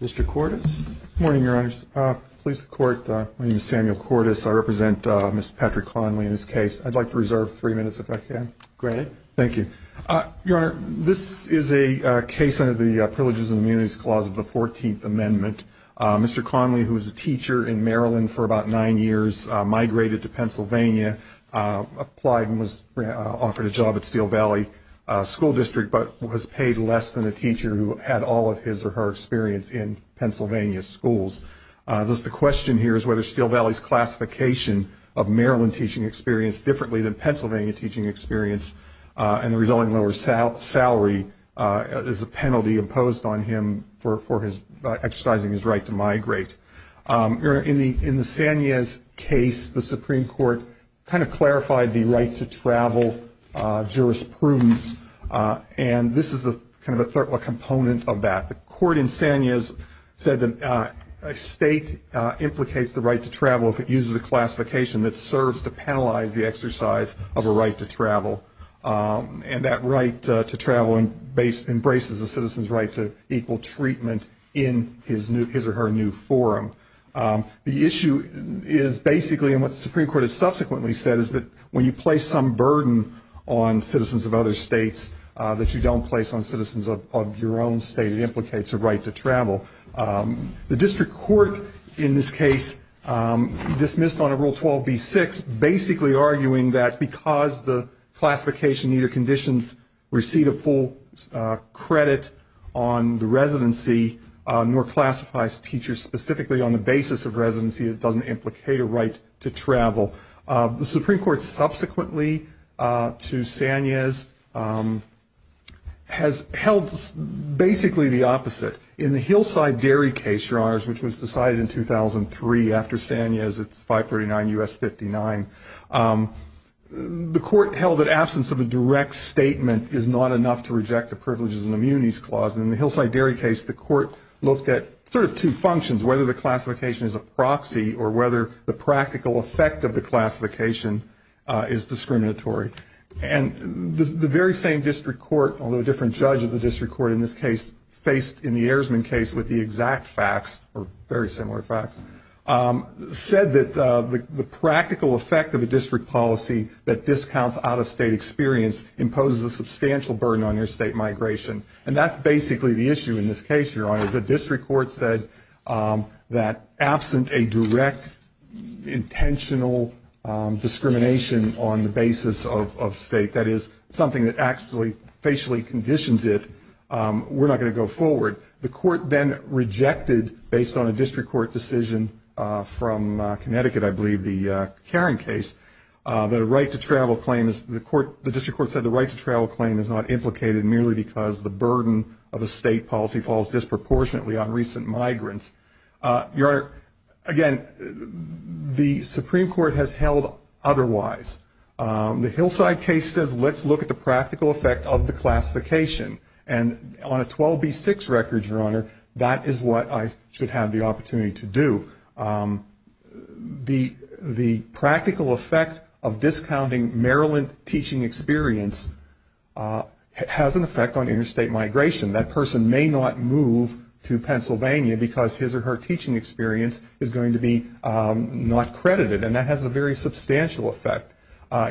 Mr. Cordes? Good morning, Your Honors. Please support my name is Samuel Cordes. I represent Mr. Patrick Connelly in this case. I'd like to reserve three minutes if I can. Great. Thank you. Your Honor, this is a case under the Privileges and Immunities Clause of the 14th Amendment. Mr. Connelly, who was a teacher in Maryland for about nine years, migrated to Pennsylvania, applied and was offered a job at Steel Valley School District, but was paid less than a teacher who had all of his or her experience in Pennsylvania schools. The question here is whether Steel Valley's classification of Maryland teaching experience differently than Pennsylvania teaching experience and the resulting lower salary is a penalty imposed on him for exercising his right to migrate. Your Honor, in the Sanez case, the Supreme Court kind of clarified the right to travel jurisprudence, and this is kind of a component of that. The court in Sanez said that a state implicates the right to travel if it uses a classification that serves to penalize the exercise of a right to travel, and that right to travel embraces a citizen's right to equal treatment in his or her new forum. The issue is basically, and what the Supreme Court has subsequently said, is that when you place some burden on citizens of other states that you don't place on citizens of your own state, The district court in this case dismissed on a Rule 12b-6 basically arguing that because the classification neither conditions receive a full credit on the residency nor classifies teachers specifically on the basis of residency, it doesn't implicate a right to travel. The Supreme Court subsequently, to Sanez, has held basically the opposite. In the Hillside Dairy case, Your Honors, which was decided in 2003 after Sanez, it's 539 U.S. 59, the court held that absence of a direct statement is not enough to reject the privileges and immunities clause. In the Hillside Dairy case, the court looked at sort of two functions, whether the classification is a proxy or whether the practical effect of the classification is discriminatory. And the very same district court, although a different judge of the district court in this case, faced in the Ayersman case with the exact facts, or very similar facts, said that the practical effect of a district policy that discounts out-of-state experience imposes a substantial burden on your state migration. And that's basically the issue in this case, Your Honor. The district court said that absent a direct intentional discrimination on the basis of state, that is something that actually facially conditions it, we're not going to go forward. The court then rejected, based on a district court decision from Connecticut, I believe, the Karen case, that a right to travel claim is the court, the district court said the right to travel claim is not implicated merely because the burden of a state policy falls disproportionately on recent migrants. Your Honor, again, the Supreme Court has held otherwise. The Hillside case says let's look at the practical effect of the classification. And on a 12B6 record, Your Honor, that is what I should have the opportunity to do. The practical effect of discounting Maryland teaching experience has an effect on interstate migration. That person may not move to Pennsylvania because his or her teaching experience is going to be not credited. And that has a very substantial effect.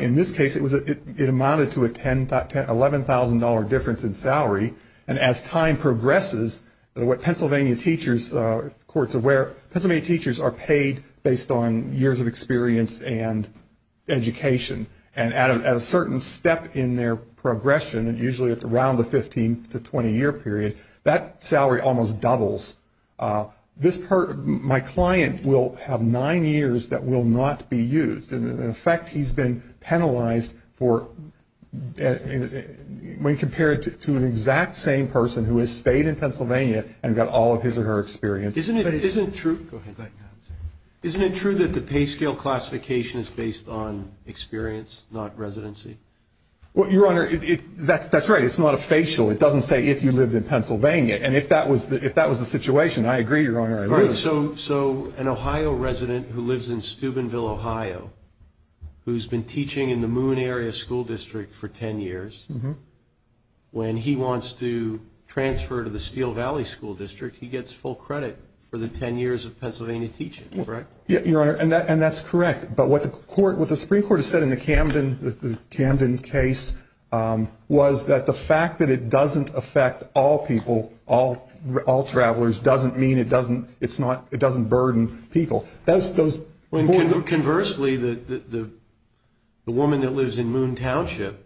In this case, it amounted to an $11,000 difference in salary. And as time progresses, Pennsylvania teachers are paid based on years of experience and education. And at a certain step in their progression, usually around the 15 to 20-year period, that salary almost doubles. My client will have nine years that will not be used. And, in effect, he's been penalized for when compared to an exact same person who has stayed in Pennsylvania and got all of his or her experience. Isn't it true that the pay scale classification is based on experience, not residency? Well, Your Honor, that's right. It's not a facial. It doesn't say if you lived in Pennsylvania. And if that was the situation, I agree, Your Honor. All right, so an Ohio resident who lives in Steubenville, Ohio, who's been teaching in the Moon Area School District for 10 years, when he wants to transfer to the Steel Valley School District, he gets full credit for the 10 years of Pennsylvania teaching, correct? Yeah, Your Honor, and that's correct. But what the Supreme Court has said in the Camden case was that the fact that it doesn't affect all people, all travelers, doesn't mean it doesn't burden people. Conversely, the woman that lives in Moon Township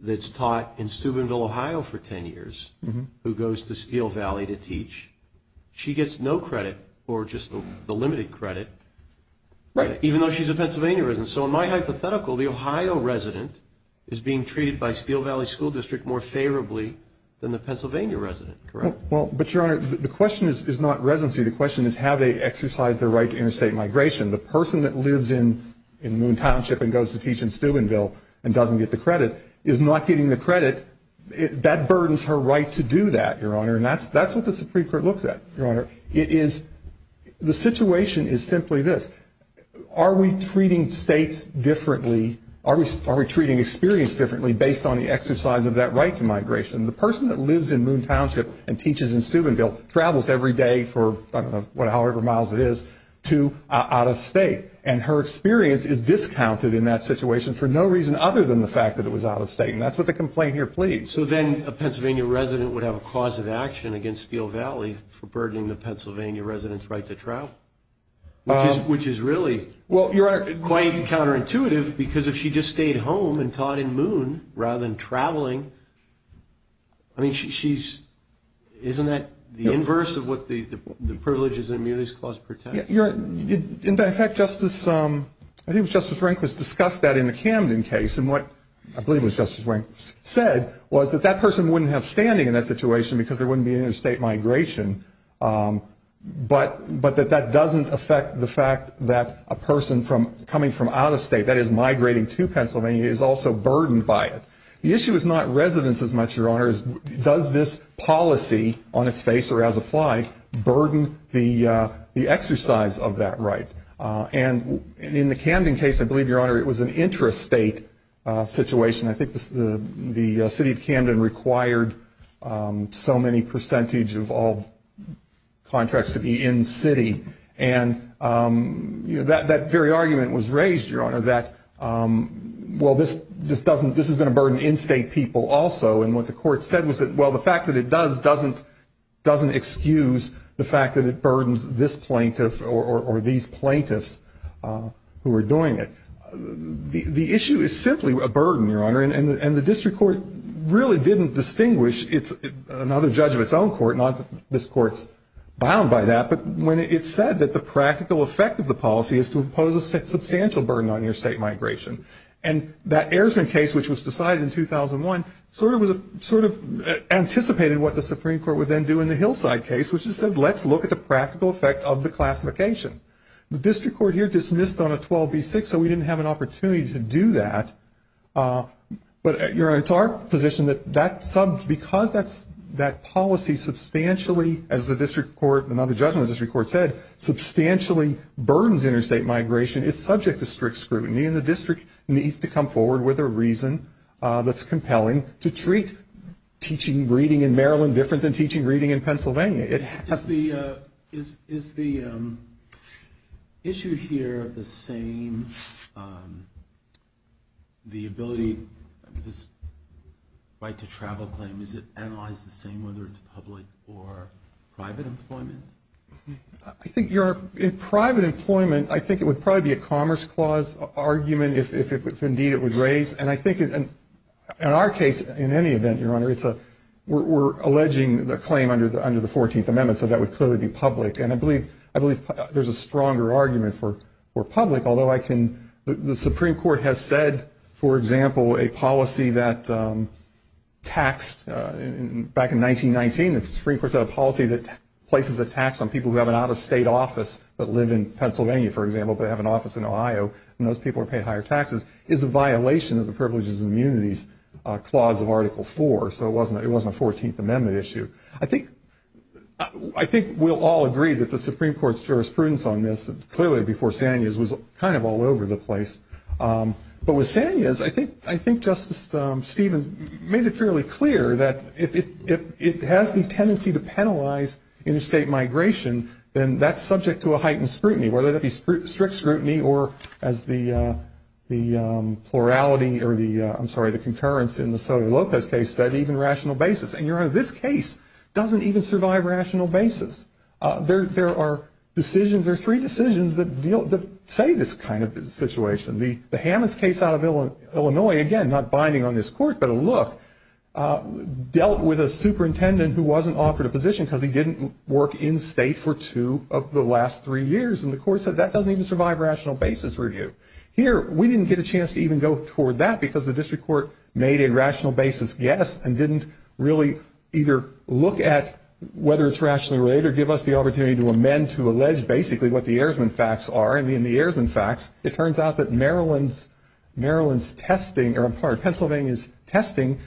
that's taught in Steubenville, Ohio, for 10 years, who goes to Steel Valley to teach, she gets no credit or just the limited credit, even though she's a Pennsylvania resident. So in my hypothetical, the Ohio resident is being treated by Steel Valley School District more favorably than the Pennsylvania resident, correct? Well, but, Your Honor, the question is not residency. The question is how they exercise their right to interstate migration. The person that lives in Moon Township and goes to teach in Steubenville and doesn't get the credit is not getting the credit. That burdens her right to do that, Your Honor, and that's what the Supreme Court looks at, Your Honor. It is the situation is simply this. Are we treating states differently? Are we treating experience differently based on the exercise of that right to migration? The person that lives in Moon Township and teaches in Steubenville travels every day for, I don't know, however many miles it is out of state, and her experience is discounted in that situation for no reason other than the fact that it was out of state, and that's what the complaint here pleads. So then a Pennsylvania resident would have a cause of action against Steel Valley for burdening the Pennsylvania resident's right to travel, which is really quite counterintuitive because if she just stayed home and taught in Moon rather than traveling, I mean, she's, isn't that the inverse of what the privileges and immunities clause protects? In fact, Justice, I think it was Justice Rehnquist discussed that in the Camden case, and what I believe was Justice Rehnquist said was that that person wouldn't have standing in that situation because there wouldn't be interstate migration, but that that doesn't affect the fact that a person from, coming from out of state, that is migrating to Pennsylvania, is also burdened by it. The issue is not residents as much, Your Honor. It's does this policy on its face or as applied burden the exercise of that right? And in the Camden case, I believe, Your Honor, it was an interstate situation. I think the city of Camden required so many percentage of all contracts to be in city, and that very argument was raised, Your Honor, that, well, this just doesn't, this is going to burden in-state people also, and what the court said was that, well, the fact that it does doesn't excuse the fact that it burdens this plaintiff or these plaintiffs who are doing it. The issue is simply a burden, Your Honor, and the district court really didn't distinguish, it's another judge of its own court, not that this court's bound by that, but when it said that the practical effect of the policy is to impose a substantial burden on your state migration, and that Ayersman case, which was decided in 2001, sort of anticipated what the Supreme Court would then do in the Hillside case, which is said let's look at the practical effect of the classification. The district court here dismissed on a 12B6, so we didn't have an opportunity to do that, but, Your Honor, it's our position that because that policy substantially, as the district court, another judge in the district court said, substantially burdens interstate migration, it's subject to strict scrutiny, and the district needs to come forward with a reason that's compelling to treat teaching, reading in Maryland different than teaching, reading in Pennsylvania. Is the issue here the same, the ability, this right to travel claim, is it analyzed the same whether it's public or private employment? I think, Your Honor, in private employment, I think it would probably be a commerce clause argument if indeed it would raise, and I think in our case, in any event, Your Honor, we're alleging the claim under the 14th Amendment, so that would clearly be public, and I believe there's a stronger argument for public, although the Supreme Court has said, for example, a policy that taxed back in 1919, the Supreme Court said a policy that places a tax on people who have an out-of-state office but live in Pennsylvania, for example, but have an office in Ohio, and those people are paid higher taxes, is a violation of the Privileges and Immunities Clause of Article 4, so it wasn't a 14th Amendment issue. I think we'll all agree that the Supreme Court's jurisprudence on this clearly before Sanias was kind of all over the place, but with Sanias, I think Justice Stevens made it fairly clear that if it has the tendency to penalize interstate migration, then that's subject to a heightened scrutiny, whether that be strict scrutiny or, as the plurality, or I'm sorry, the concurrence in the Sotomayor-Lopez case said, even rational basis, and, Your Honor, this case doesn't even survive rational basis. There are decisions, there are three decisions that say this kind of situation. The Hammonds case out of Illinois, again, not binding on this Court, but a look, dealt with a superintendent who wasn't offered a position because he didn't work in-state for two of the last three years, and the Court said that doesn't even survive rational basis review. Here, we didn't get a chance to even go toward that because the District Court made a rational basis guess and didn't really either look at whether it's rationally related or give us the opportunity to amend to allege basically what the Ayersman facts are, and in the Ayersman facts, it turns out that Maryland's testing, or I'm sorry, Pennsylvania's testing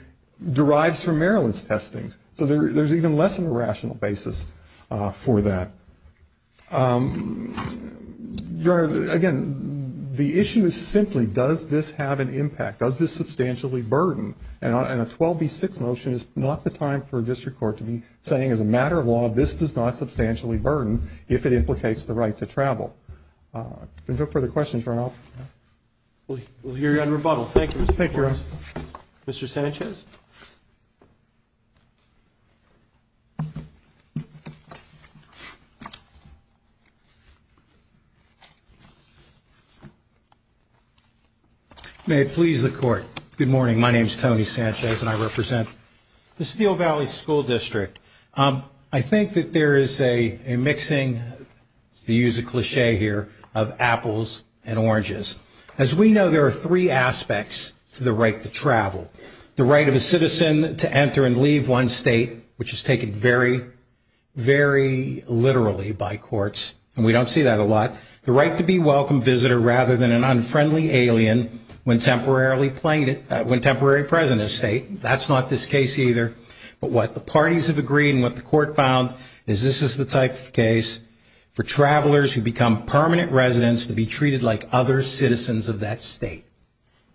derives from Maryland's testing, so there's even less of a rational basis for that. Your Honor, again, the issue is simply does this have an impact, does this substantially burden, and a 12B6 motion is not the time for a District Court to be saying as a matter of law, this does not substantially burden if it implicates the right to travel. If there are no further questions, Your Honor, I'll. We'll hear you on rebuttal. Thank you. Thank you, Your Honor. Mr. Sanchez. May it please the Court. Good morning. My name is Tony Sanchez, and I represent the Steel Valley School District. I think that there is a mixing, to use a cliché here, of apples and oranges. As we know, there are three aspects to the right to travel, the right of a citizen to enter and leave one state, which is taken very, very literally by courts, and we don't see that a lot, the right to be a welcome visitor rather than an unfriendly alien when temporarily present in a state. That's not this case either, but what the parties have agreed and what the Court found is this is the type of case for travelers who become permanent residents to be treated like other citizens of that state.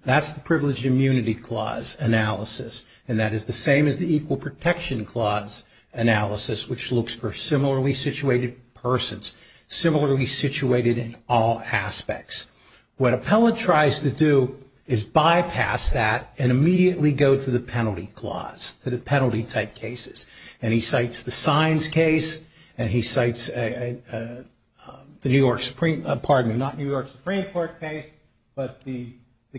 That's the Privileged Immunity Clause analysis, and that is the same as the Equal Protection Clause analysis, which looks for similarly situated persons, similarly situated in all aspects. What Appellant tries to do is bypass that and immediately go to the Penalty Clause, to the penalty-type cases, and he cites the Signs case, and he cites the New York Supreme, pardon me, not New York Supreme Court case, but the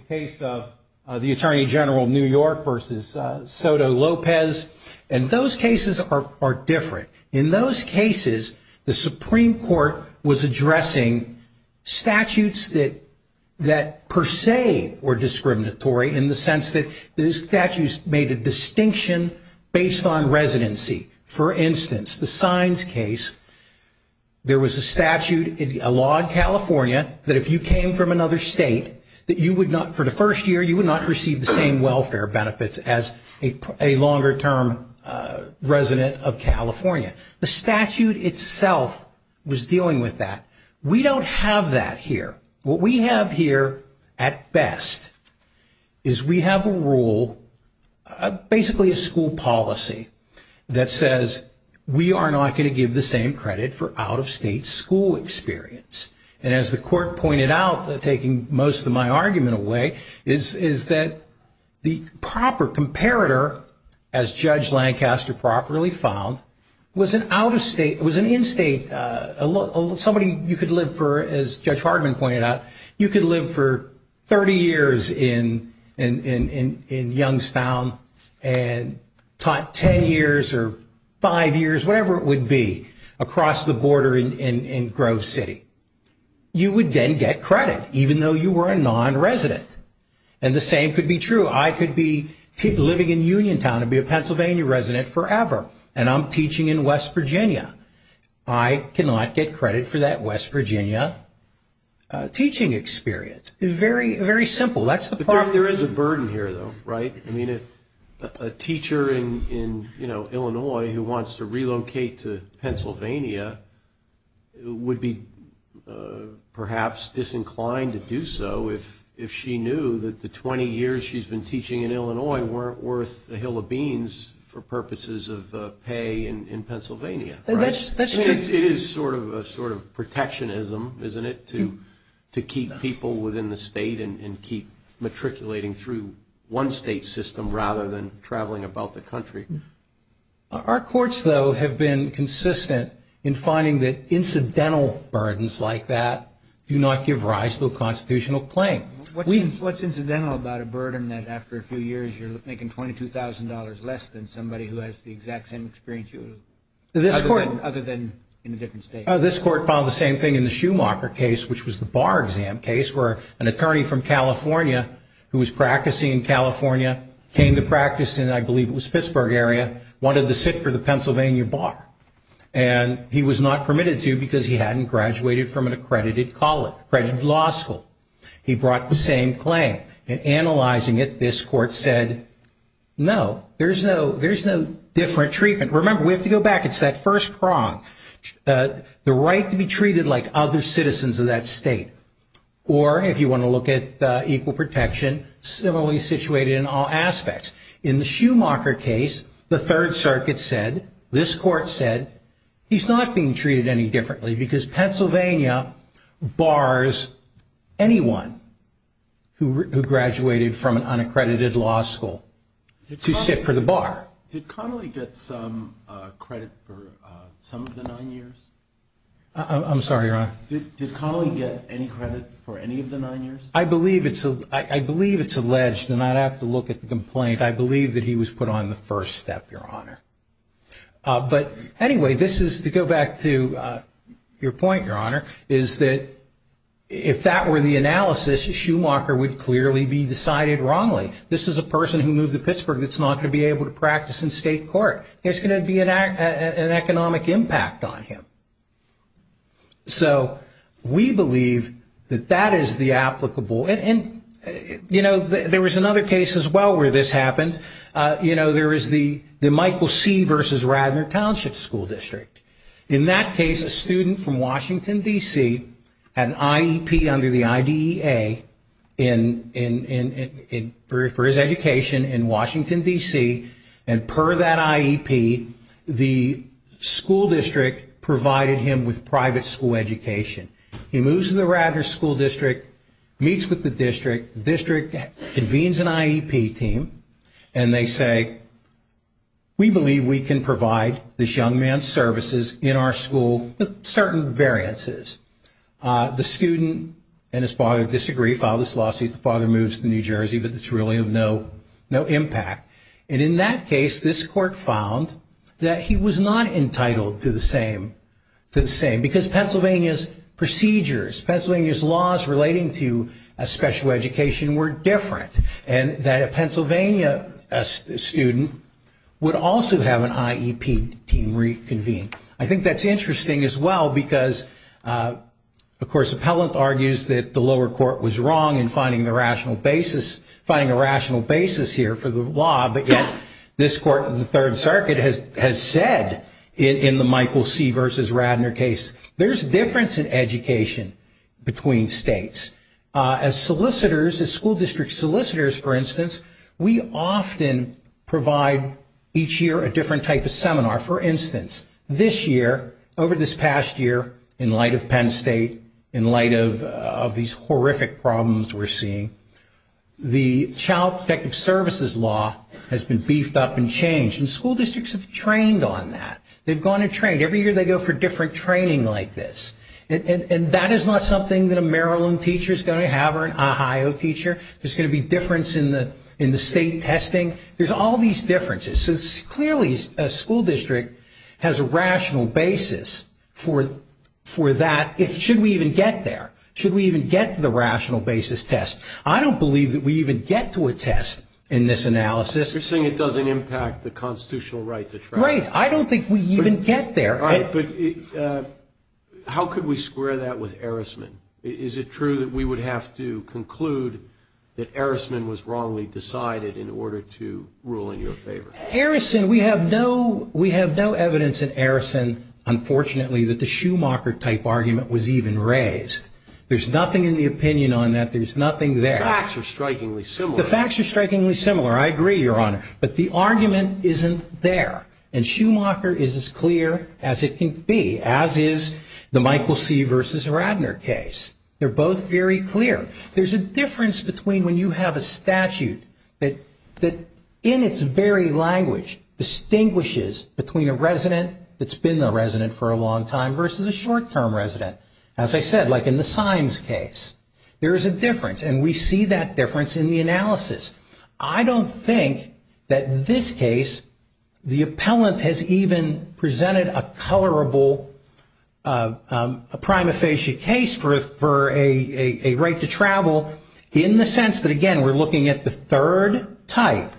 case of the Attorney General of New York versus Soto Lopez, and those cases are different. In those cases, the Supreme Court was addressing statutes that per se were discriminatory in the sense that those statutes made a distinction based on residency. For instance, the Signs case, there was a statute, a law in California, that if you came from another state, that you would not, for the first year, you would not receive the same welfare benefits as a longer-term resident of California. The statute itself was dealing with that. We don't have that here. What we have here at best is we have a rule, basically a school policy, that says we are not going to give the same credit for out-of-state school experience, and as the court pointed out, taking most of my argument away, is that the proper comparator, as Judge Lancaster properly found, was an out-of-state, was an in-state, somebody you could live for, as Judge Hardman pointed out, you could live for 30 years in Youngstown and taught 10 years or five years, whatever it would be, across the border in Grove City. You would then get credit, even though you were a non-resident, and the same could be true. I could be living in Uniontown and be a Pennsylvania resident forever, and I'm teaching in West Virginia. I cannot get credit for that West Virginia teaching experience. It's very, very simple. There is a burden here, though, right? I mean, a teacher in Illinois who wants to relocate to Pennsylvania would be perhaps disinclined to do so if she knew that the 20 years she's been teaching in Illinois weren't worth a hill of beans for purposes of pay in Pennsylvania, right? That's true. It is sort of protectionism, isn't it, to keep people within the state and keep matriculating through one state system rather than traveling about the country? Our courts, though, have been consistent in finding that incidental burdens like that do not give rise to a constitutional claim. What's incidental about a burden that after a few years you're making $22,000 less than somebody who has the exact same experience other than in a different state? This court filed the same thing in the Schumacher case, which was the bar exam case, where an attorney from California who was practicing in California came to practice in I believe it was Pittsburgh area, wanted to sit for the Pennsylvania bar. And he was not permitted to because he hadn't graduated from an accredited law school. He brought the same claim. In analyzing it, this court said, no, there's no different treatment. Remember, we have to go back. It's that first prong. The right to be treated like other citizens of that state. Or if you want to look at equal protection, similarly situated in all aspects. In the Schumacher case, the Third Circuit said, this court said, he's not being treated any differently because Pennsylvania bars anyone who graduated from an unaccredited law school to sit for the bar. Did Connolly get some credit for some of the nine years? I'm sorry, Your Honor. Did Connolly get any credit for any of the nine years? I believe it's alleged, and I'd have to look at the complaint. I believe that he was put on the first step, Your Honor. But anyway, this is to go back to your point, Your Honor, is that if that were the analysis, Schumacher would clearly be decided wrongly. This is a person who moved to Pittsburgh that's not going to be able to practice in state court. There's going to be an economic impact on him. So we believe that that is the applicable. And, you know, there was another case as well where this happened. You know, there was the Michael C. versus Radnor Township School District. In that case, a student from Washington, D.C., had an IEP under the IDEA for his education in Washington, D.C., and per that IEP, the school district provided him with private school education. He moves to the Radnor School District, meets with the district, the district convenes an IEP team, and they say, we believe we can provide this young man's services in our school with certain variances. The student and his father disagree, file this lawsuit. The father moves to New Jersey, but it's really of no impact. And in that case, this court found that he was not entitled to the same, because Pennsylvania's procedures, Pennsylvania's laws relating to special education were different, and that a Pennsylvania student would also have an IEP team reconvened. I think that's interesting as well, because, of course, Appellant argues that the lower court was wrong in finding the rational basis here for the law, but yet this court in the Third Circuit has said in the Michael C. versus Radnor case, there's a difference in education between states. As solicitors, as school district solicitors, for instance, we often provide each year a different type of seminar. For instance, this year, over this past year, in light of Penn State, in light of these horrific problems we're seeing, the child protective services law has been beefed up and changed, and school districts have trained on that. They've gone and trained. Every year they go for different training like this, and that is not something that a Maryland teacher is going to have or an Ohio teacher. There's going to be difference in the state testing. There's all these differences, so clearly a school district has a rational basis for that. Should we even get there? Should we even get to the rational basis test? I don't believe that we even get to a test in this analysis. You're saying it doesn't impact the constitutional right to trial. Right. I don't think we even get there. All right, but how could we square that with Erisman? Is it true that we would have to conclude that Erisman was wrongly decided in order to rule in your favor? Erisman, we have no evidence in Erisman, unfortunately, that the Schumacher-type argument was even raised. There's nothing in the opinion on that. There's nothing there. The facts are strikingly similar. The facts are strikingly similar. I agree, Your Honor, but the argument isn't there, and Schumacher is as clear as it can be, as is the Michael C. versus Radner case. They're both very clear. There's a difference between when you have a statute that, in its very language, distinguishes between a resident that's been a resident for a long time versus a short-term resident. As I said, like in the signs case, there is a difference, and we see that difference in the analysis. I don't think that in this case the appellant has even presented a colorable, a prima facie case for a right to travel, in the sense that, again, we're looking at the third type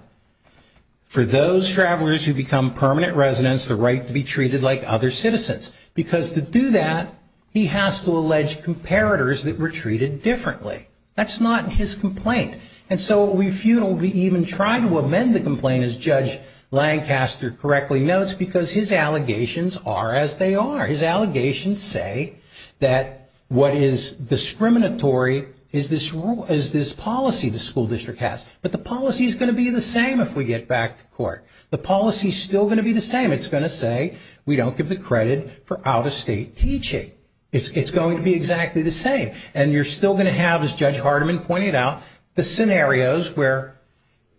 for those travelers who become permanent residents, the right to be treated like other citizens, because to do that, he has to allege comparators that were treated differently. That's not his complaint. And so we even try to amend the complaint, as Judge Lancaster correctly notes, because his allegations are as they are. His allegations say that what is discriminatory is this policy the school district has, but the policy is going to be the same if we get back to court. The policy is still going to be the same. It's going to say we don't give the credit for out-of-state teaching. It's going to be exactly the same, and you're still going to have, as Judge Hardiman pointed out, the scenarios where,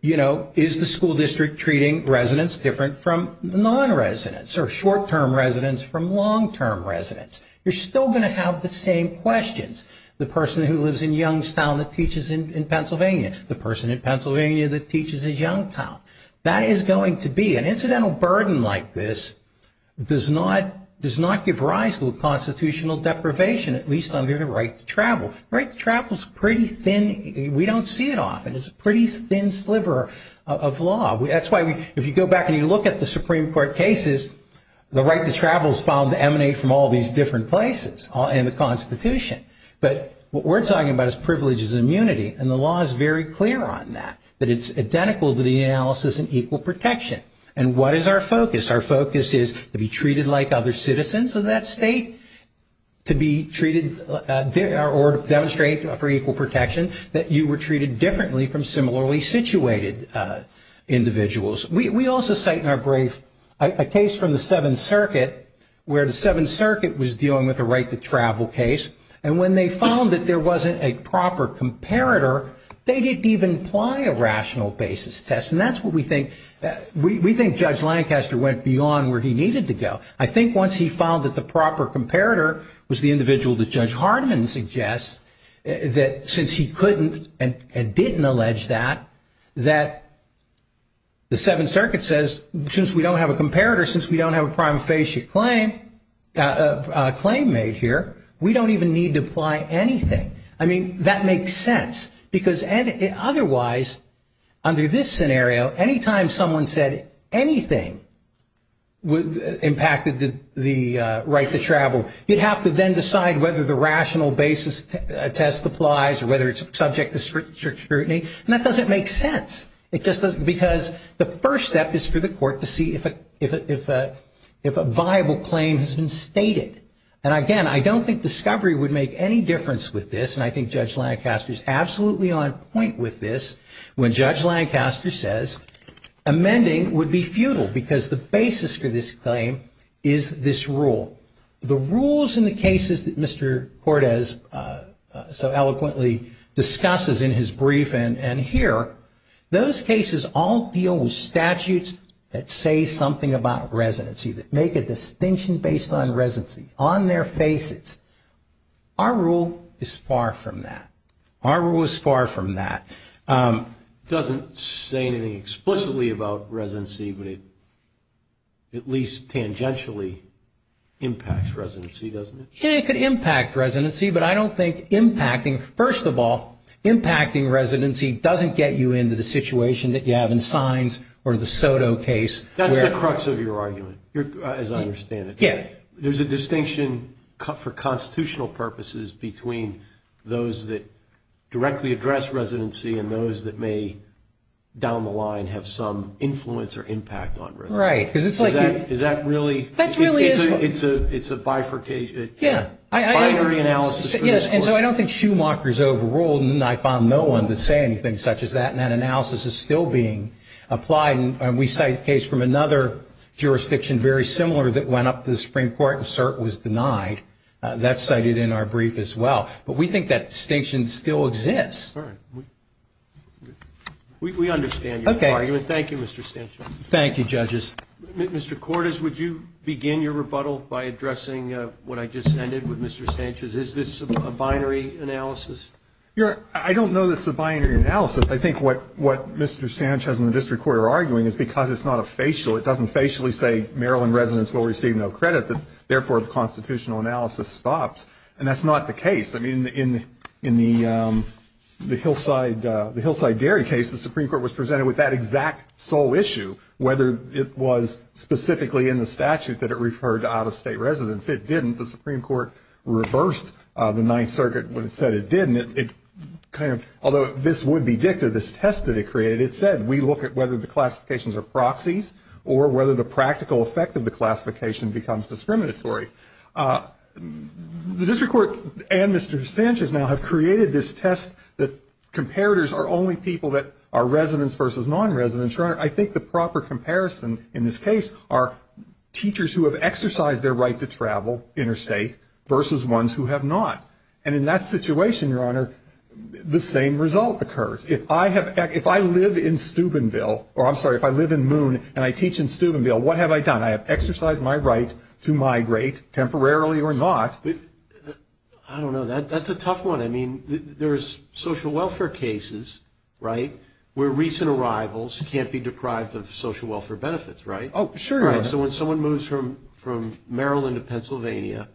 you know, is the school district treating residents different from non-residents or short-term residents from long-term residents. You're still going to have the same questions, the person who lives in Youngstown that teaches in Pennsylvania, the person in Pennsylvania that teaches in Youngstown. That is going to be an incidental burden like this does not give rise to a constitutional deprivation, at least under the right to travel. The right to travel is pretty thin. We don't see it often. It's a pretty thin sliver of law. That's why if you go back and you look at the Supreme Court cases, the right to travel is found to emanate from all these different places in the Constitution. But what we're talking about is privileges of immunity, and the law is very clear on that, that it's identical to the analysis in equal protection. And what is our focus? Our focus is to be treated like other citizens of that state, to be treated or demonstrate for equal protection that you were treated differently from similarly situated individuals. We also cite in our brief a case from the Seventh Circuit, where the Seventh Circuit was dealing with a right to travel case, and when they found that there wasn't a proper comparator, they didn't even apply a rational basis test. And that's what we think. We think Judge Lancaster went beyond where he needed to go. I think once he found that the proper comparator was the individual that Judge Hardiman suggests, that since he couldn't and didn't allege that, that the Seventh Circuit says, since we don't have a comparator, since we don't have a prima facie claim made here, we don't even need to apply anything. I mean, that makes sense, because otherwise, under this scenario, anytime someone said anything impacted the right to travel, you'd have to then decide whether the rational basis test applies or whether it's subject to scrutiny. And that doesn't make sense, because the first step is for the court to see if a viable claim has been stated. And, again, I don't think discovery would make any difference with this, and I think Judge Lancaster is absolutely on point with this, when Judge Lancaster says amending would be futile, because the basis for this claim is this rule. The rules in the cases that Mr. Cordez so eloquently discusses in his brief and here, those cases all deal with statutes that say something about residency, that make a distinction based on residency, on their faces. Our rule is far from that. Our rule is far from that. It doesn't say anything explicitly about residency, but it at least tangentially impacts residency, doesn't it? Yeah, it could impact residency, but I don't think impacting, first of all, impacting residency doesn't get you into the situation that you have in signs or the Soto case. That's the crux of your argument, as I understand it. Yeah. There's a distinction for constitutional purposes between those that directly address residency and those that may, down the line, have some influence or impact on residency. Right. Is that really? That really is. It's a bifurcation. Yeah. Binary analysis for this court. And so I don't think Schumacher's overruled, and I found no one to say anything such as that, and that analysis is still being applied, and we cite a case from another jurisdiction very similar that went up to the Supreme Court and cert was denied. That's cited in our brief as well. But we think that distinction still exists. We understand your argument. Thank you, Mr. Sanchez. Thank you, judges. Mr. Cordez, would you begin your rebuttal by addressing what I just ended with Mr. Sanchez? Is this a binary analysis? I don't know that it's a binary analysis. I think what Mr. Sanchez and the district court are arguing is because it's not a facial, it doesn't facially say Maryland residents will receive no credit, therefore the constitutional analysis stops. And that's not the case. I mean, in the Hillside Dairy case, the Supreme Court was presented with that exact sole issue, whether it was specifically in the statute that it referred to out-of-state residents. It didn't. The Supreme Court reversed the Ninth Circuit when it said it didn't. Although this would be dicta, this test that it created, it said, we look at whether the classifications are proxies or whether the practical effect of the classification becomes discriminatory. The district court and Mr. Sanchez now have created this test that comparators are only people that are residents versus non-residents. And, Your Honor, I think the proper comparison in this case are teachers who have exercised their right to travel interstate versus ones who have not. And in that situation, Your Honor, the same result occurs. If I live in Steubenville, or I'm sorry, if I live in Moon and I teach in Steubenville, what have I done? I have exercised my right to migrate, temporarily or not. I don't know. That's a tough one. I mean, there's social welfare cases, right, where recent arrivals can't be deprived of social welfare benefits, right? Oh, sure, Your Honor. So when someone moves from Maryland to Pennsylvania,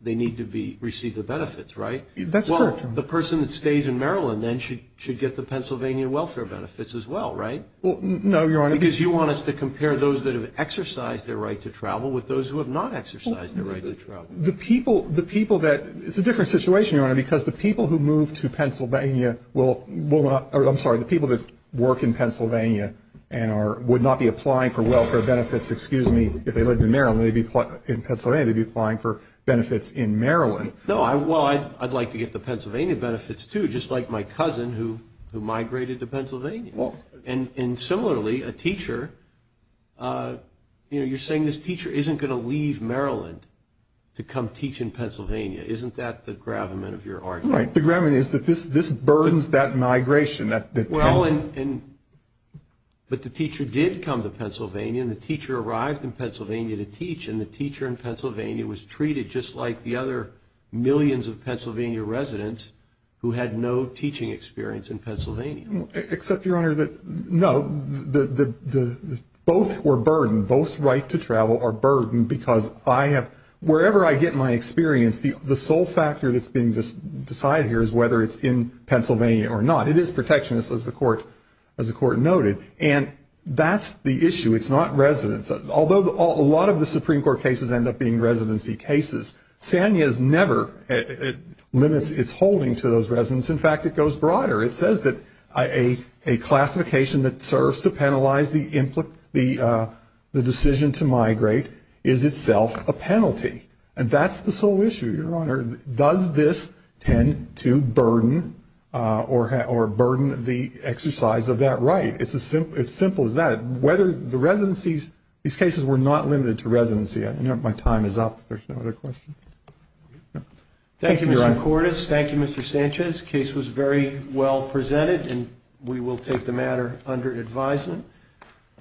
they need to receive the benefits, right? That's correct. Well, the person that stays in Maryland then should get the Pennsylvania welfare benefits as well, right? Well, no, Your Honor. Because you want us to compare those that have exercised their right to travel with those who have not exercised their right to travel. The people that ‑‑ it's a different situation, Your Honor, because the people who move to Pennsylvania will not ‑‑ I'm sorry, the people that work in Pennsylvania would not be applying for welfare benefits, excuse me, if they lived in Maryland. In Pennsylvania, they'd be applying for benefits in Maryland. No, well, I'd like to get the Pennsylvania benefits too, just like my cousin who migrated to Pennsylvania. And similarly, a teacher, you know, you're saying this teacher isn't going to leave Maryland to come teach in Pennsylvania. Isn't that the gravamen of your argument? Right, the gravamen is that this burdens that migration. Well, but the teacher did come to Pennsylvania, and the teacher arrived in Pennsylvania to teach, and the teacher in Pennsylvania was treated just like the other millions of Pennsylvania residents who had no teaching experience in Pennsylvania. Except, Your Honor, no, both were burdened, both's right to travel are burdened, because I have ‑‑ wherever I get my experience, the sole factor that's being decided here is whether it's in Pennsylvania or not. It is protectionist, as the court noted. And that's the issue. It's not residence. Although a lot of the Supreme Court cases end up being residency cases, Sanya's never limits its holding to those residents. In fact, it goes broader. It says that a classification that serves to penalize the decision to migrate is itself a penalty. And that's the sole issue, Your Honor. Does this tend to burden or burden the exercise of that right? It's as simple as that. Whether the residencies, these cases were not limited to residency. My time is up. There's no other questions. Thank you, Your Honor. Thank you, Mr. Cordes. Thank you, Mr. Sanchez. This case was very well presented, and we will take the matter under advisement.